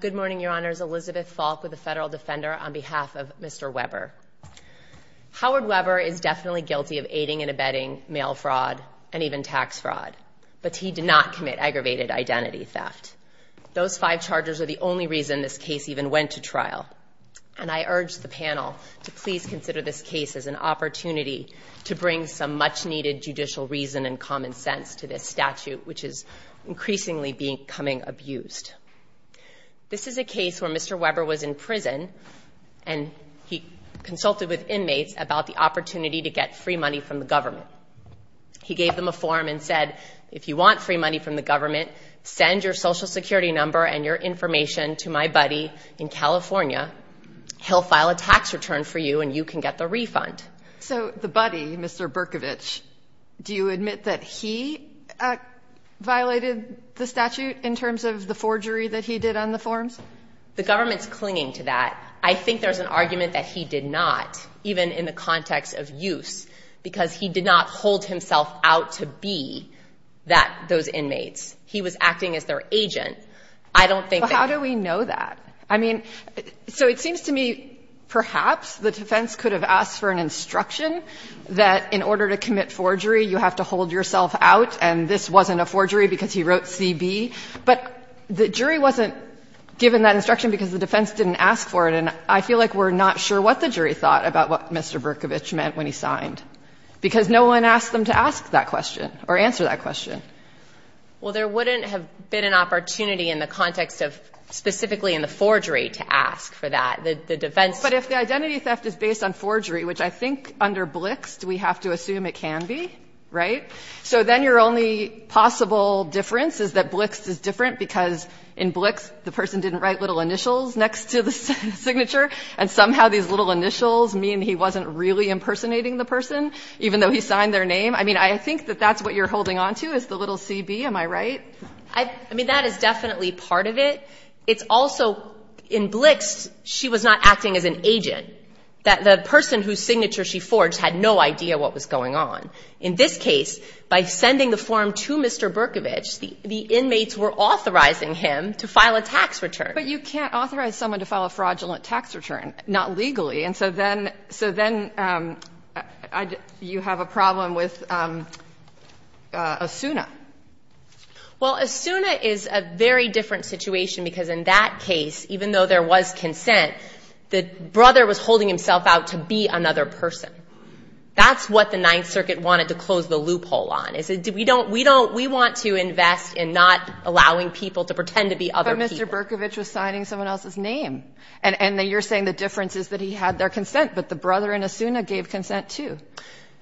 Good morning, Your Honors. Elizabeth Falk with the Federal Defender on behalf of Mr. Webber. Howard Webber is definitely guilty of aiding and abetting mail fraud and even tax fraud, but he did not commit aggravated identity theft. Those five charges are the only reason this case even went to trial, and I urge the panel to please consider this case as an opportunity to bring some much-needed judicial reason and common sense to this statute, which is increasingly becoming abused. This is a case where Mr. Webber was in prison, and he consulted with inmates about the opportunity to get free money from the government. He gave them a form and said, If you want free money from the government, send your Social Security number and your information to my buddy in California. He'll file a tax return for you, and you can get the refund. So the buddy, Mr. Berkovich, do you admit that he violated the statute in terms of the forgery that he did on the forms? The government's clinging to that. I think there's an argument that he did not, even in the context of use, because he did not hold himself out to be those inmates. He was acting as their agent. I don't think that — Well, how do we know that? I mean, so it seems to me perhaps the defense could have asked for an instruction that in order to commit forgery, you have to hold yourself out, and this wasn't a forgery because he wrote CB. But the jury wasn't given that instruction because the defense didn't ask for it, and I feel like we're not sure what the jury thought about what Mr. Berkovich meant when he signed, because no one asked them to ask that question or answer that question. Well, there wouldn't have been an opportunity in the context of specifically in the forgery to ask for that. The defense — But if the identity theft is based on forgery, which I think under Blixt, we have to assume it can be, right? So then your only possible difference is that Blixt is different because in Blixt, the person didn't write little initials next to the signature, and somehow these little initials mean he wasn't really impersonating the person, even though he signed their name. I mean, I think that that's what you're holding on to, is the little CB. Am I right? I mean, that is definitely part of it. It's also, in Blixt, she was not acting as an agent. The person whose signature she forged had no idea what was going on. In this case, by sending the form to Mr. Berkovich, the inmates were authorizing him to file a tax return. But you can't authorize someone to file a fraudulent tax return, not legally. And so then, so then you have a problem with Asuna. Well, Asuna is a very different situation, because in that case, even though there was consent, the brother was holding himself out to be another person. That's what the Ninth Circuit wanted to close the loophole on, is we don't, we don't, we want to invest in not allowing people to pretend to be other people. But Mr. Berkovich was signing someone else's name. And you're saying the difference is that he had their consent, but the brother and Asuna gave consent, too.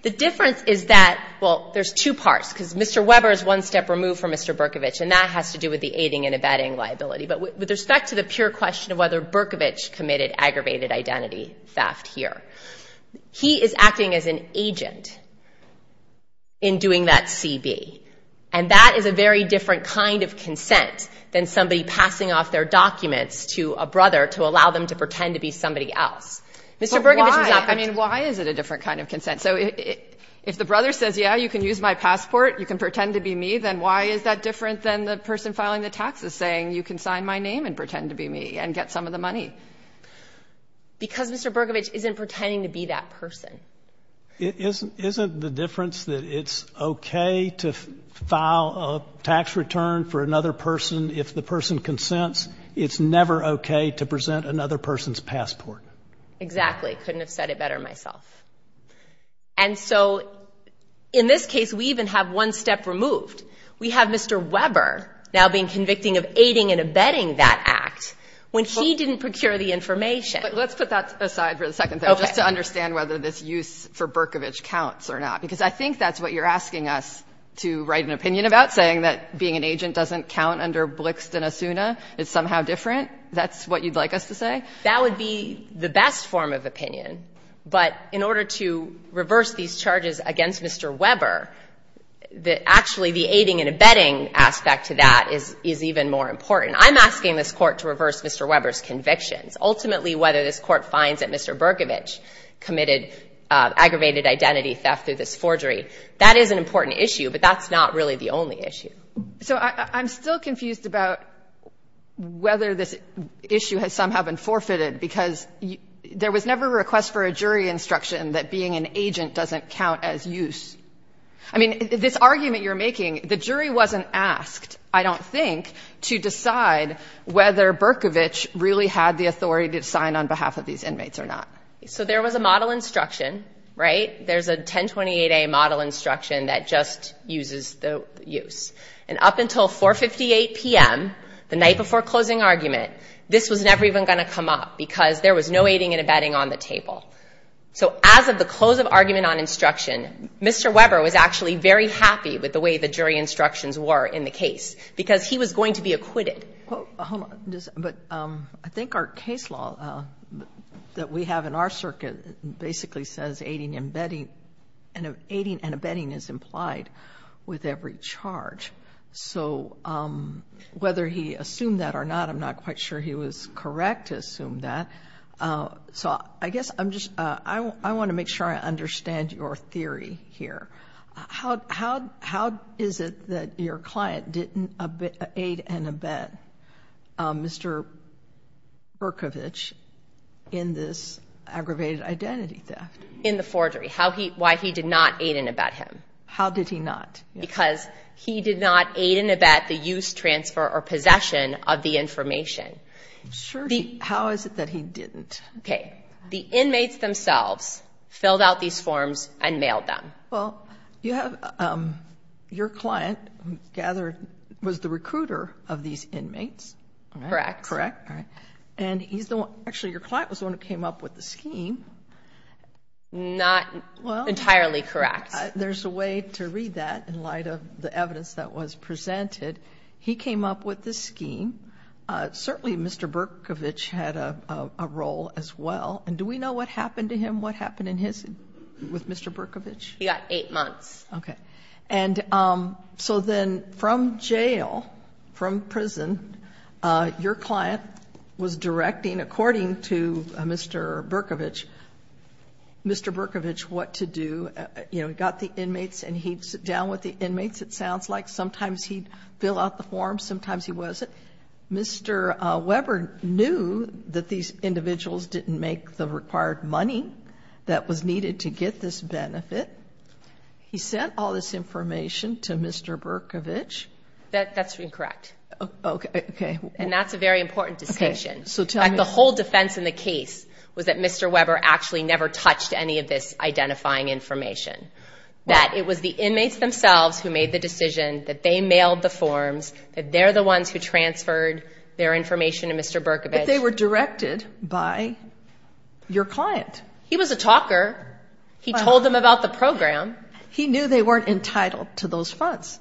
The difference is that, well, there's two parts, because Mr. Weber is one step removed from Mr. Berkovich, and that has to do with the aiding and abetting liability. But with respect to the pure question of whether Berkovich committed aggravated identity theft here, he is acting as an agent in doing that CB. And that is a very different kind of consent than somebody passing off their brother to allow them to pretend to be somebody else. Mr. Berkovich was not. But why? I mean, why is it a different kind of consent? So if the brother says, yeah, you can use my passport, you can pretend to be me, then why is that different than the person filing the taxes saying you can sign my name and pretend to be me and get some of the money? Because Mr. Berkovich isn't pretending to be that person. Isn't the difference that it's okay to file a tax return for another person if the passport? Exactly. Couldn't have said it better myself. And so in this case, we even have one step removed. We have Mr. Weber now being convicting of aiding and abetting that act when he didn't procure the information. But let's put that aside for the second thing, just to understand whether this use for Berkovich counts or not. Because I think that's what you're asking us to write an opinion about, saying that being an agent doesn't count under Blixt and Asuna. It's somehow different. Right? That's what you'd like us to say? That would be the best form of opinion. But in order to reverse these charges against Mr. Weber, actually the aiding and abetting aspect to that is even more important. I'm asking this Court to reverse Mr. Weber's convictions. Ultimately, whether this Court finds that Mr. Berkovich committed aggravated identity theft through this forgery, that is an important issue. But that's not really the only issue. So I'm still confused about whether this issue has somehow been forfeited, because there was never a request for a jury instruction that being an agent doesn't count as use. I mean, this argument you're making, the jury wasn't asked, I don't think, to decide whether Berkovich really had the authority to sign on behalf of these inmates or not. So there was a model instruction, right? There's a 1028A model instruction that just uses the use. And up until 4.58 p.m., the night before closing argument, this was never even going to come up, because there was no aiding and abetting on the table. So as of the close of argument on instruction, Mr. Weber was actually very happy with the way the jury instructions were in the case, because he was going to be acquitted. But I think our case law that we have in our circuit basically says aiding and abetting is implied with every charge. So whether he assumed that or not, I'm not quite sure he was correct to assume that. So I guess I'm just – I want to make sure I understand your theory here. How is it that your client didn't aid and abet Mr. Berkovich in this aggravated identity theft? In the forgery. Why he did not aid and abet him. How did he not? Because he did not aid and abet the use, transfer, or possession of the information. Sure. How is it that he didn't? Okay. The inmates themselves filled out these forms and mailed them. Well, you have – your client gathered – was the recruiter of these inmates. Correct. Correct. All right. And he's the one – actually, your client was the one who came up with the scheme. Not entirely correct. There's a way to read that in light of the evidence that was presented. He came up with the scheme. Certainly, Mr. Berkovich had a role as well. And do we know what happened to him? What happened in his – with Mr. Berkovich? He got eight months. Okay. And so then from jail, from prison, your client was directing, according to Mr. Berkovich, Mr. Berkovich what to do. You know, he got the inmates and he'd sit down with the inmates, it sounds like. Sometimes he'd fill out the forms. Sometimes he wasn't. Mr. Weber knew that these individuals didn't make the required money that was needed to get this benefit. He sent all this information to Mr. Berkovich. That's incorrect. Okay. And that's a very important distinction. The whole defense in the case was that Mr. Weber actually never touched any of this identifying information. That it was the inmates themselves who made the decision that they mailed the forms, that they're the ones who transferred their information to Mr. Berkovich. But they were directed by your client. He was a talker. He told them about the program. He knew they weren't entitled to those funds.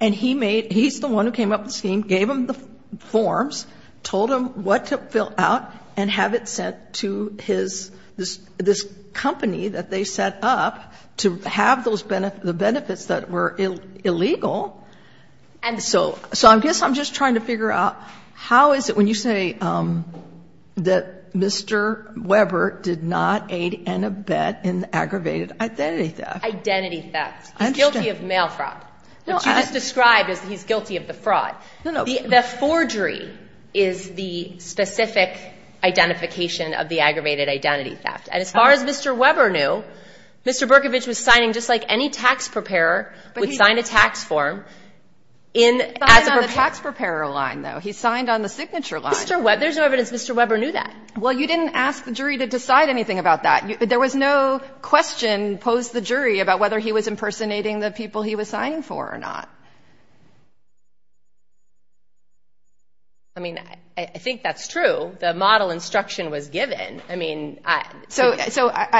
And he's the one who came up with the scheme, gave them the forms, told them what to fill out, and have it sent to this company that they set up to have the benefits that were illegal. And so I guess I'm just trying to figure out how is it when you say that Mr. Berkovich is going to bet in the aggravated identity theft? Identity theft. Interesting. He's guilty of mail fraud, which you just described as he's guilty of the fraud. No, no. The forgery is the specific identification of the aggravated identity theft. And as far as Mr. Weber knew, Mr. Berkovich was signing just like any tax preparer would sign a tax form in as a perpetrator. He signed on the tax preparer line, though. He signed on the signature line. Mr. Weber. There's no evidence Mr. Weber knew that. Well, you didn't ask the jury to decide anything about that. There was no question posed to the jury about whether he was impersonating the people he was signing for or not. I mean, I think that's true. The model instruction was given. I mean, I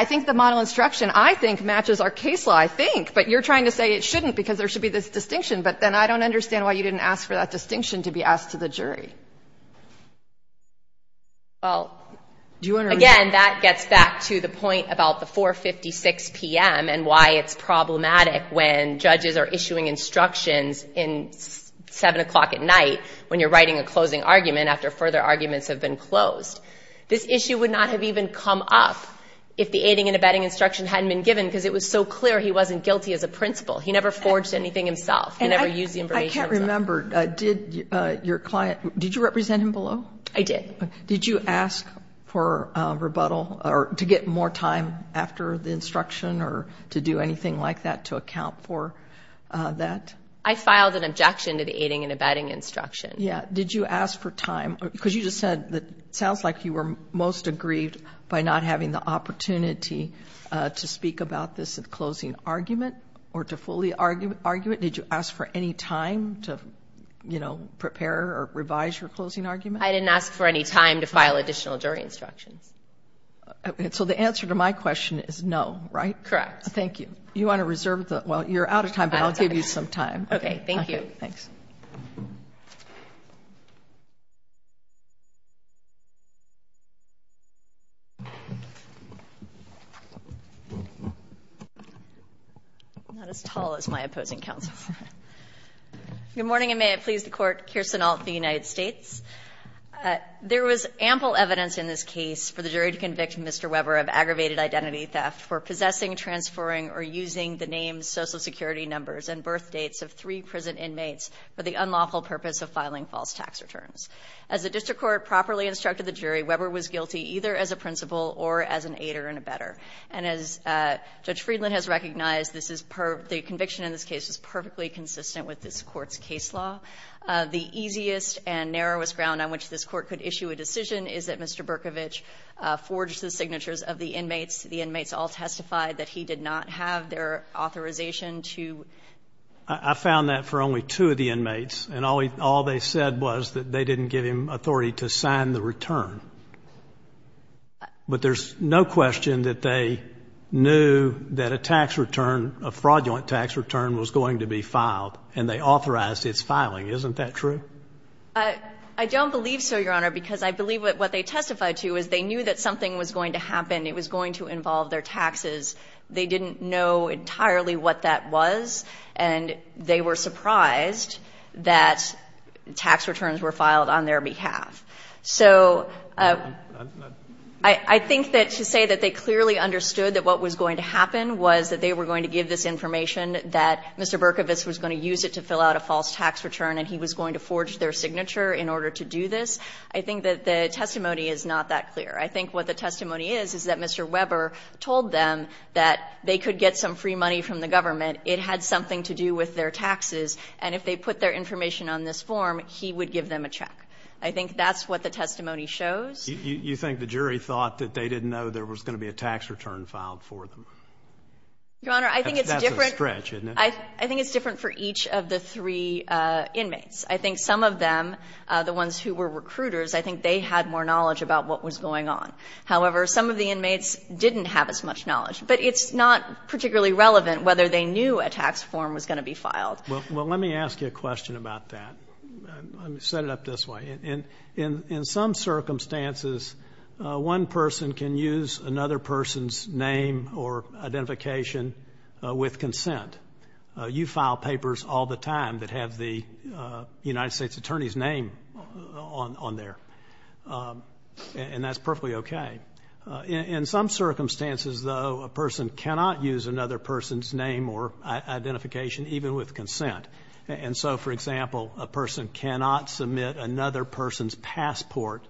think the model instruction, I think, matches our case law, I think. But you're trying to say it shouldn't because there should be this distinction. But then I don't understand why you didn't ask for that distinction to be asked to the jury. Well, again, that gets back to the point about the 4.56 p.m. and why it's problematic when judges are issuing instructions at 7 o'clock at night when you're writing a closing argument after further arguments have been closed. This issue would not have even come up if the aiding and abetting instruction hadn't been given because it was so clear he wasn't guilty as a principal. He never forged anything himself. He never used the information himself. I can't remember. Did your client – did you represent him below? I did. Did you ask for rebuttal or to get more time after the instruction or to do anything like that to account for that? I filed an objection to the aiding and abetting instruction. Yeah. Did you ask for time? Because you just said that it sounds like you were most aggrieved by not having the opportunity to speak about this at closing argument or to fully argument. Did you ask for any time to, you know, prepare or revise your closing argument? I didn't ask for any time to file additional jury instructions. So the answer to my question is no, right? Correct. Thank you. You want to reserve the – well, you're out of time, but I'll give you some time. Okay. Thank you. Thanks. I'm not as tall as my opposing counsel. Good morning, and may it please the Court. Kirsten Alt, the United States. There was ample evidence in this case for the jury to convict Mr. Weber of aggravated identity theft for possessing, transferring, or using the name, social security numbers, and birth dates of three prison inmates for the unlawful purpose of filing false tax returns. As the district court properly instructed the jury, Weber was guilty either as a principal or as an aider and abetter. And as Judge Friedland has recognized, the conviction in this case is perfectly consistent with this Court's case law. The easiest and narrowest ground on which this Court could issue a decision is that Mr. Berkovich forged the signatures of the inmates. The inmates all testified that he did not have their authorization to – I found that for only two of the inmates, and all they said was that they didn't give him authority to sign the return. But there's no question that they knew that a tax return, a fraudulent tax return was going to be filed, and they authorized its filing. Isn't that true? I don't believe so, Your Honor, because I believe what they testified to is they knew that something was going to happen. It was going to involve their taxes. They didn't know entirely what that was, and they were surprised that tax returns were filed on their behalf. So I think that to say that they clearly understood that what was going to happen was that they were going to give this information, that Mr. Berkovich was going to use it to fill out a false tax return, and he was going to forge their signature in order to do this, I think that the testimony is not that clear. I think what the testimony is is that Mr. Weber told them that they could get some free money from the government. It had something to do with their taxes. And if they put their information on this form, he would give them a check. I think that's what the testimony shows. You think the jury thought that they didn't know there was going to be a tax return filed for them? Your Honor, I think it's different. That's a stretch, isn't it? I think it's different for each of the three inmates. I think some of them, the ones who were recruiters, I think they had more knowledge about what was going on. However, some of the inmates didn't have as much knowledge. But it's not particularly relevant whether they knew a tax form was going to be filed. Well, let me ask you a question about that. Let me set it up this way. In some circumstances, one person can use another person's name or identification with consent. You file papers all the time that have the United States Attorney's name on there, and that's perfectly okay. In some circumstances, though, a person cannot use another person's name or identification even with consent. And so, for example, a person cannot submit another person's passport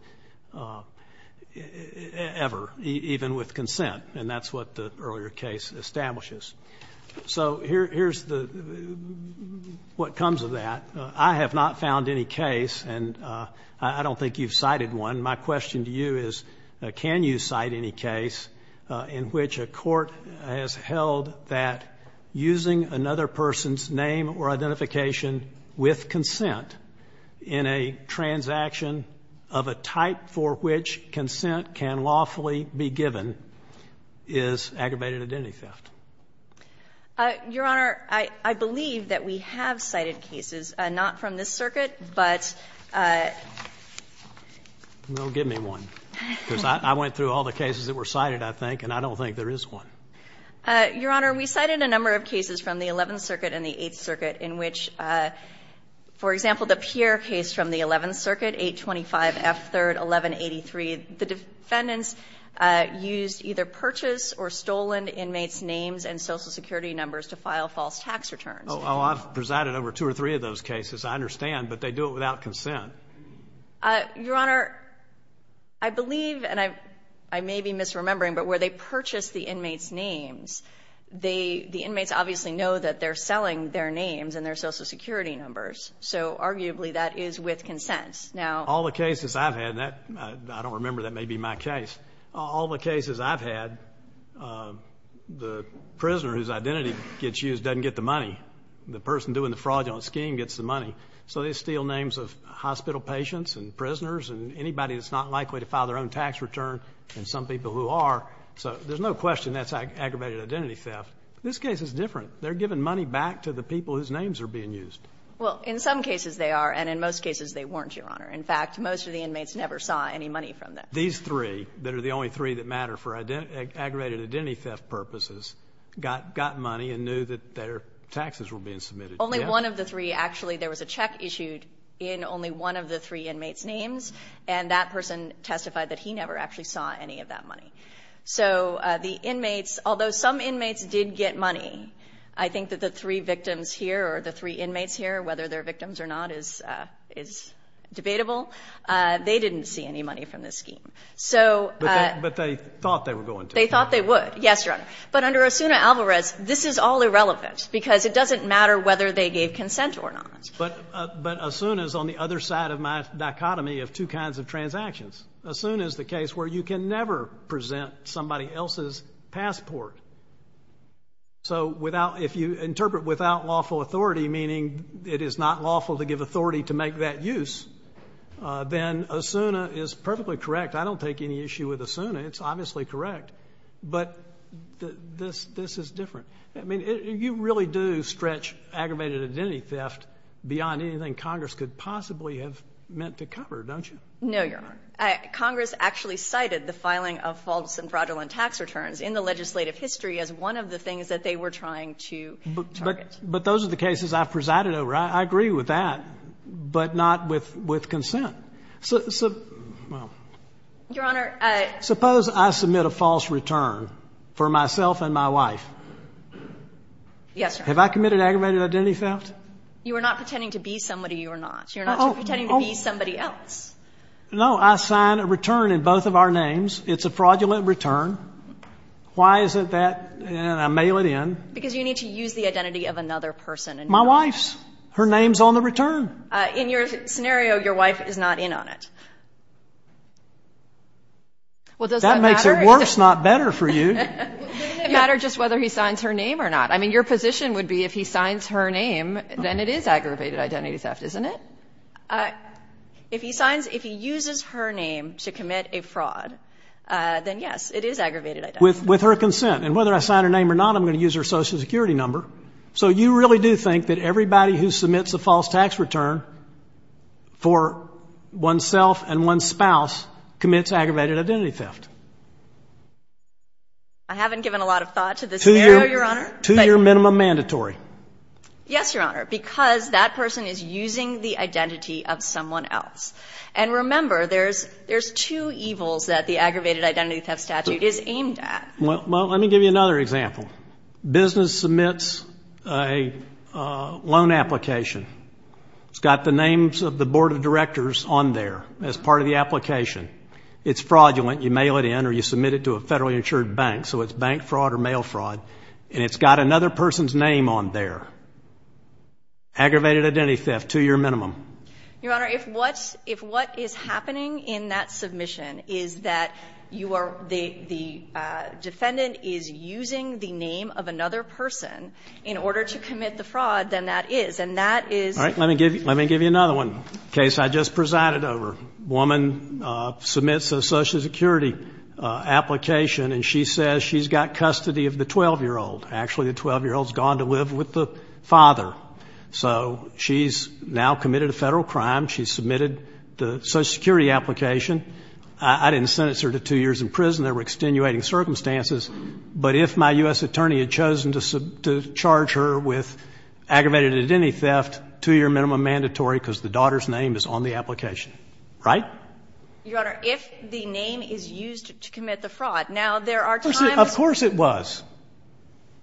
ever, even with consent, and that's what the earlier case establishes. So here's what comes of that. I have not found any case, and I don't think you've cited one. And my question to you is, can you cite any case in which a court has held that using another person's name or identification with consent in a transaction of a type for which consent can lawfully be given is aggravated identity theft? Your Honor, I believe that we have cited cases, not from this circuit, but we have cited a number of cases from the 11th Circuit and the 8th Circuit in which, for example, the Pierre case from the 11th Circuit, 825 F. 3rd, 1183, the defendants used either purchase or stolen inmates' names and Social Security numbers to file false tax returns. Oh, I've presided over two or three of those cases. I understand, but they do it without consent. Your Honor, I believe, and I may be misremembering, but where they purchase the inmates' names, the inmates obviously know that they're selling their names and their Social Security numbers, so arguably that is with consent. All the cases I've had, and I don't remember, that may be my case, all the cases I've had, the prisoner whose identity gets used doesn't get the money. The person doing the fraudulent scheme gets the money. So they steal names of hospital patients and prisoners and anybody that's not likely to file their own tax return and some people who are, so there's no question that's aggravated identity theft. This case is different. They're giving money back to the people whose names are being used. Well, in some cases they are, and in most cases they weren't, Your Honor. In fact, most of the inmates never saw any money from that. These three, that are the only three that matter for aggravated identity theft purposes, got money and knew that their taxes were being submitted to them. Only one of the three, actually, there was a check issued in only one of the three inmates' names, and that person testified that he never actually saw any of that money. So the inmates, although some inmates did get money, I think that the three victims here or the three inmates here, whether they're victims or not, is debatable, they didn't see any money from this scheme. But they thought they were going to. They thought they would, yes, Your Honor. But under Osuna Alvarez, this is all irrelevant because it doesn't matter whether they gave consent or not. But Osuna is on the other side of my dichotomy of two kinds of transactions. Osuna is the case where you can never present somebody else's passport. So if you interpret without lawful authority, meaning it is not lawful to give authority to make that use, then Osuna is perfectly correct. I don't take any issue with Osuna. It's obviously correct. But this is different. I mean, you really do stretch aggravated identity theft beyond anything Congress could possibly have meant to cover, don't you? No, Your Honor. Congress actually cited the filing of false and fraudulent tax returns in the legislative history as one of the things that they were trying to target. But those are the cases I've presided over. I agree with that, but not with consent. Well. Your Honor. Suppose I submit a false return for myself and my wife. Yes, Your Honor. Have I committed aggravated identity theft? You are not pretending to be somebody you are not. You're not pretending to be somebody else. No, I sign a return in both of our names. It's a fraudulent return. Why is it that I mail it in? Because you need to use the identity of another person. My wife's. Her name's on the return. In your scenario, your wife is not in on it. Well, does that matter? That makes it worse, not better for you. Doesn't it matter just whether he signs her name or not? I mean, your position would be if he signs her name, then it is aggravated identity theft, isn't it? If he signs, if he uses her name to commit a fraud, then yes, it is aggravated identity theft. With her consent. And whether I sign her name or not, I'm going to use her Social Security number. So you really do think that everybody who submits a false tax return for oneself and one's spouse commits aggravated identity theft? I haven't given a lot of thought to this scenario, Your Honor. To your minimum mandatory? Yes, Your Honor, because that person is using the identity of someone else. And remember, there's two evils that the aggravated identity theft statute is aimed at. Well, let me give you another example. Business submits a loan application. It's got the names of the board of directors on there as part of the application. It's fraudulent. You mail it in or you submit it to a federally insured bank. So it's bank fraud or mail fraud. And it's got another person's name on there. Aggravated identity theft, to your minimum. Your Honor, if what is happening in that submission is that you are the defendant is using the name of another person in order to commit the fraud, then that is. And that is. All right. Let me give you another one. A case I just presided over. A woman submits a Social Security application, and she says she's got custody of the 12-year-old. Actually, the 12-year-old's gone to live with the father. So she's now committed a Federal crime. She's submitted the Social Security application. I didn't sentence her to two years in prison. There were extenuating circumstances. But if my U.S. attorney had chosen to charge her with aggravated identity theft, to your minimum mandatory, because the daughter's name is on the application. Right? Your Honor, if the name is used to commit the fraud, now there are times. Of course it was.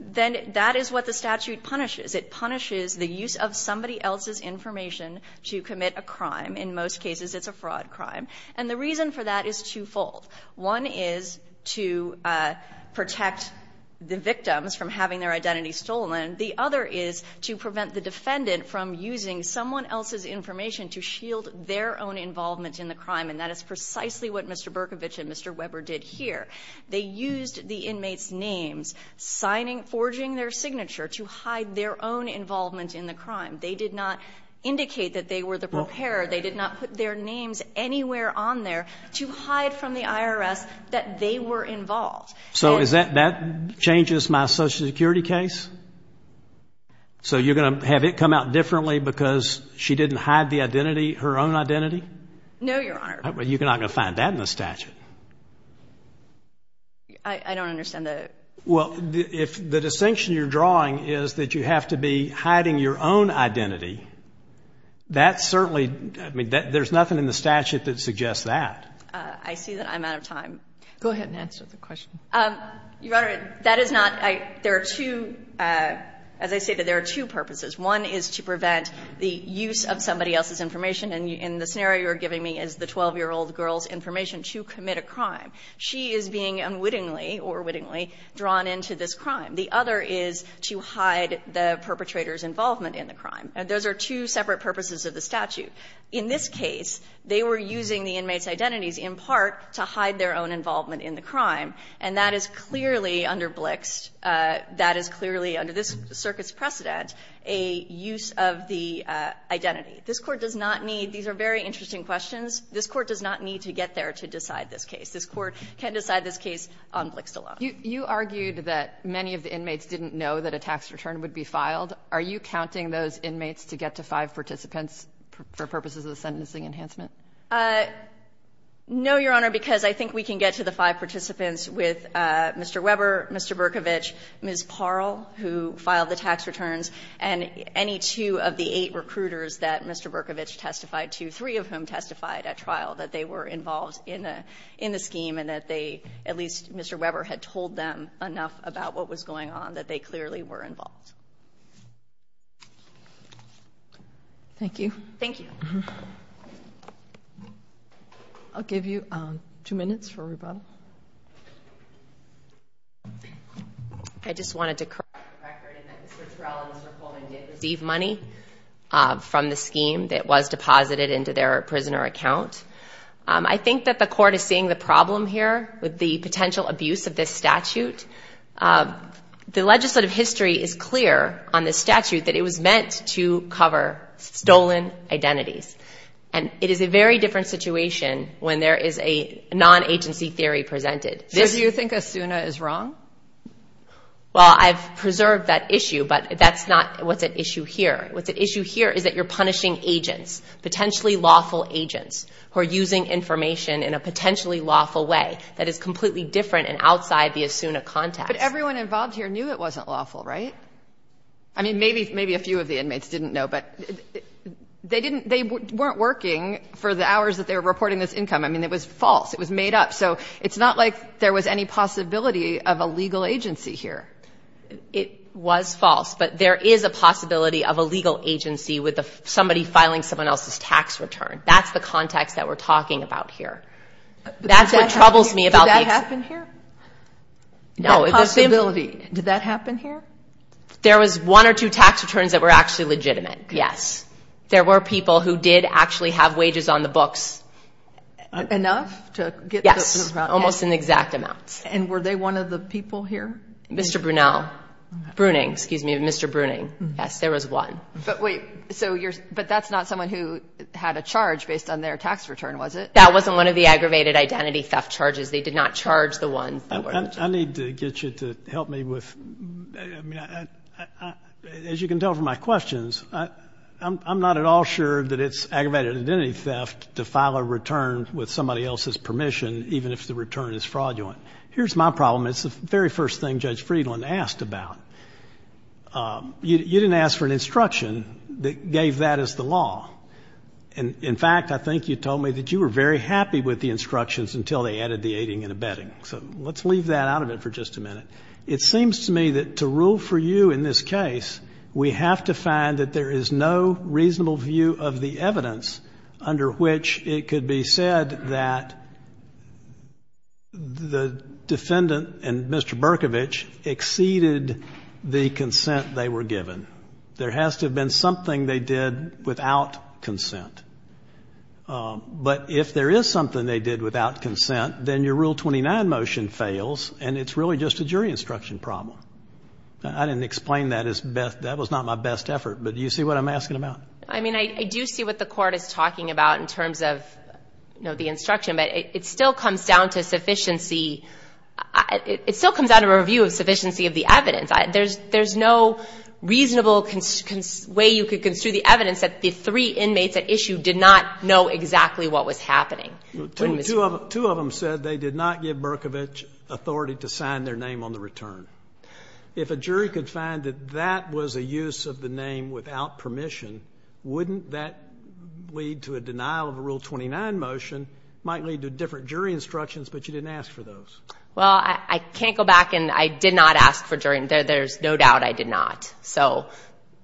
Then that is what the statute punishes. It punishes the use of somebody else's information to commit a crime. In most cases, it's a fraud crime. And the reason for that is twofold. One is to protect the victims from having their identity stolen. The other is to prevent the defendant from using someone else's information to shield their own involvement in the crime. And that is precisely what Mr. Berkovich and Mr. Weber did here. They used the inmates' names, forging their signature to hide their own involvement in the crime. They did not indicate that they were the preparer. They did not put their names anywhere on there to hide from the IRS that they were involved. So that changes my Social Security case? So you're going to have it come out differently because she didn't hide her own identity? No, Your Honor. Well, you're not going to find that in the statute. I don't understand that. Well, if the distinction you're drawing is that you have to be hiding your own identity, that certainly — I mean, there's nothing in the statute that suggests that. I see that I'm out of time. Go ahead and answer the question. Your Honor, that is not — there are two — as I say, there are two purposes. One is to prevent the use of somebody else's information. And the scenario you're giving me is the 12-year-old girl's information to commit a crime. She is being unwittingly or wittingly drawn into this crime. The other is to hide the perpetrator's involvement in the crime. Those are two separate purposes of the statute. In this case, they were using the inmates' identities in part to hide their own involvement in the crime, and that is clearly under Blixt. That is clearly, under this circuit's precedent, a use of the identity. This Court does not need — these are very interesting questions. This Court does not need to get there to decide this case. This Court can decide this case on Blixt alone. You argued that many of the inmates didn't know that a tax return would be filed. Are you counting those inmates to get to five participants for purposes of the sentencing enhancement? No, Your Honor, because I think we can get to the five participants with Mr. Weber, Mr. Berkovich, Ms. Parle, who filed the tax returns, and any two of the eight recruiters that Mr. Berkovich testified to, three of whom testified at trial, that they were involved in the scheme and that they — at least Mr. Weber had told them enough about what was going on that they clearly were involved. Thank you. Thank you. I'll give you two minutes for rebuttal. I just wanted to correct the record in that Mr. Terrell and Mr. Coleman did receive money from the scheme that was deposited into their prisoner account. I think that the Court is seeing the problem here with the potential abuse of this statute. The legislative history is clear on this statute that it was meant to cover stolen identities. And it is a very different situation when there is a non-agency theory presented. So do you think Asuna is wrong? Well, I've preserved that issue, but that's not what's at issue here. What's at issue here is that you're punishing agents, potentially lawful agents, who are using information in a potentially lawful way that is completely different and outside the Asuna context. But everyone involved here knew it wasn't lawful, right? I mean, maybe a few of the inmates didn't know. But they weren't working for the hours that they were reporting this income. I mean, it was false. It was made up. So it's not like there was any possibility of a legal agency here. It was false. But there is a possibility of a legal agency with somebody filing someone else's tax return. That's the context that we're talking about here. That's what troubles me about the ex— Did that happen here? No. The possibility. Did that happen here? There was one or two tax returns that were actually legitimate. Yes. There were people who did actually have wages on the books. Enough to get the— Yes. Almost in exact amounts. And were they one of the people here? Mr. Brunel. Bruning. Excuse me. Mr. Bruning. Yes, there was one. But wait. So you're—but that's not someone who had a charge based on their tax return, was it? That wasn't one of the aggravated identity theft charges. They did not charge the one. I need to get you to help me with—I mean, as you can tell from my questions, I'm not at all sure that it's aggravated identity theft to file a return with somebody else's permission, even if the return is fraudulent. Here's my problem. It's the very first thing Judge Friedland asked about. You didn't ask for an instruction that gave that as the law. In fact, I think you told me that you were very happy with the instructions until they added the aiding and abetting. So let's leave that out of it for just a minute. It seems to me that to rule for you in this case, we have to find that there is no reasonable view of the evidence under which it could be said that the defendant and Mr. Berkovich exceeded the consent they were given. There has to have been something they did without consent. But if there is something they did without consent, then your Rule 29 motion fails, and it's really just a jury instruction problem. I didn't explain that. That was not my best effort. But do you see what I'm asking about? I mean, I do see what the Court is talking about in terms of, you know, the instruction. But it still comes down to sufficiency. It still comes down to a review of sufficiency of the evidence. There's no reasonable way you could construe the evidence that the three inmates at issue did not know exactly what was happening. Two of them said they did not give Berkovich authority to sign their name on the return. If a jury could find that that was a use of the name without permission, wouldn't that lead to a denial of a Rule 29 motion? It might lead to different jury instructions, but you didn't ask for those. Well, I can't go back and I did not ask for jury instructions. There's no doubt I did not. So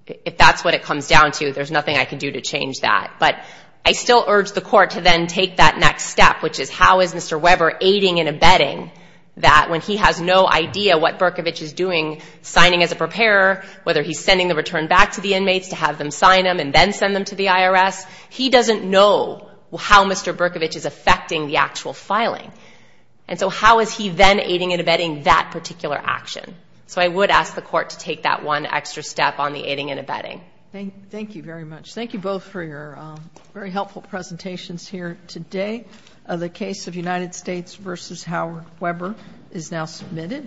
if that's what it comes down to, there's nothing I can do to change that. But I still urge the Court to then take that next step, which is how is Mr. Weber aiding and abetting that when he has no idea what Berkovich is doing, signing as a preparer, whether he's sending the return back to the inmates to have them sign them and then send them to the IRS. He doesn't know how Mr. Berkovich is affecting the actual filing. And so how is he then aiding and abetting that particular action? So I would ask the Court to take that one extra step on the aiding and abetting. Thank you very much. Thank you both for your very helpful presentations here today. The case of United States v. Howard Weber is now submitted.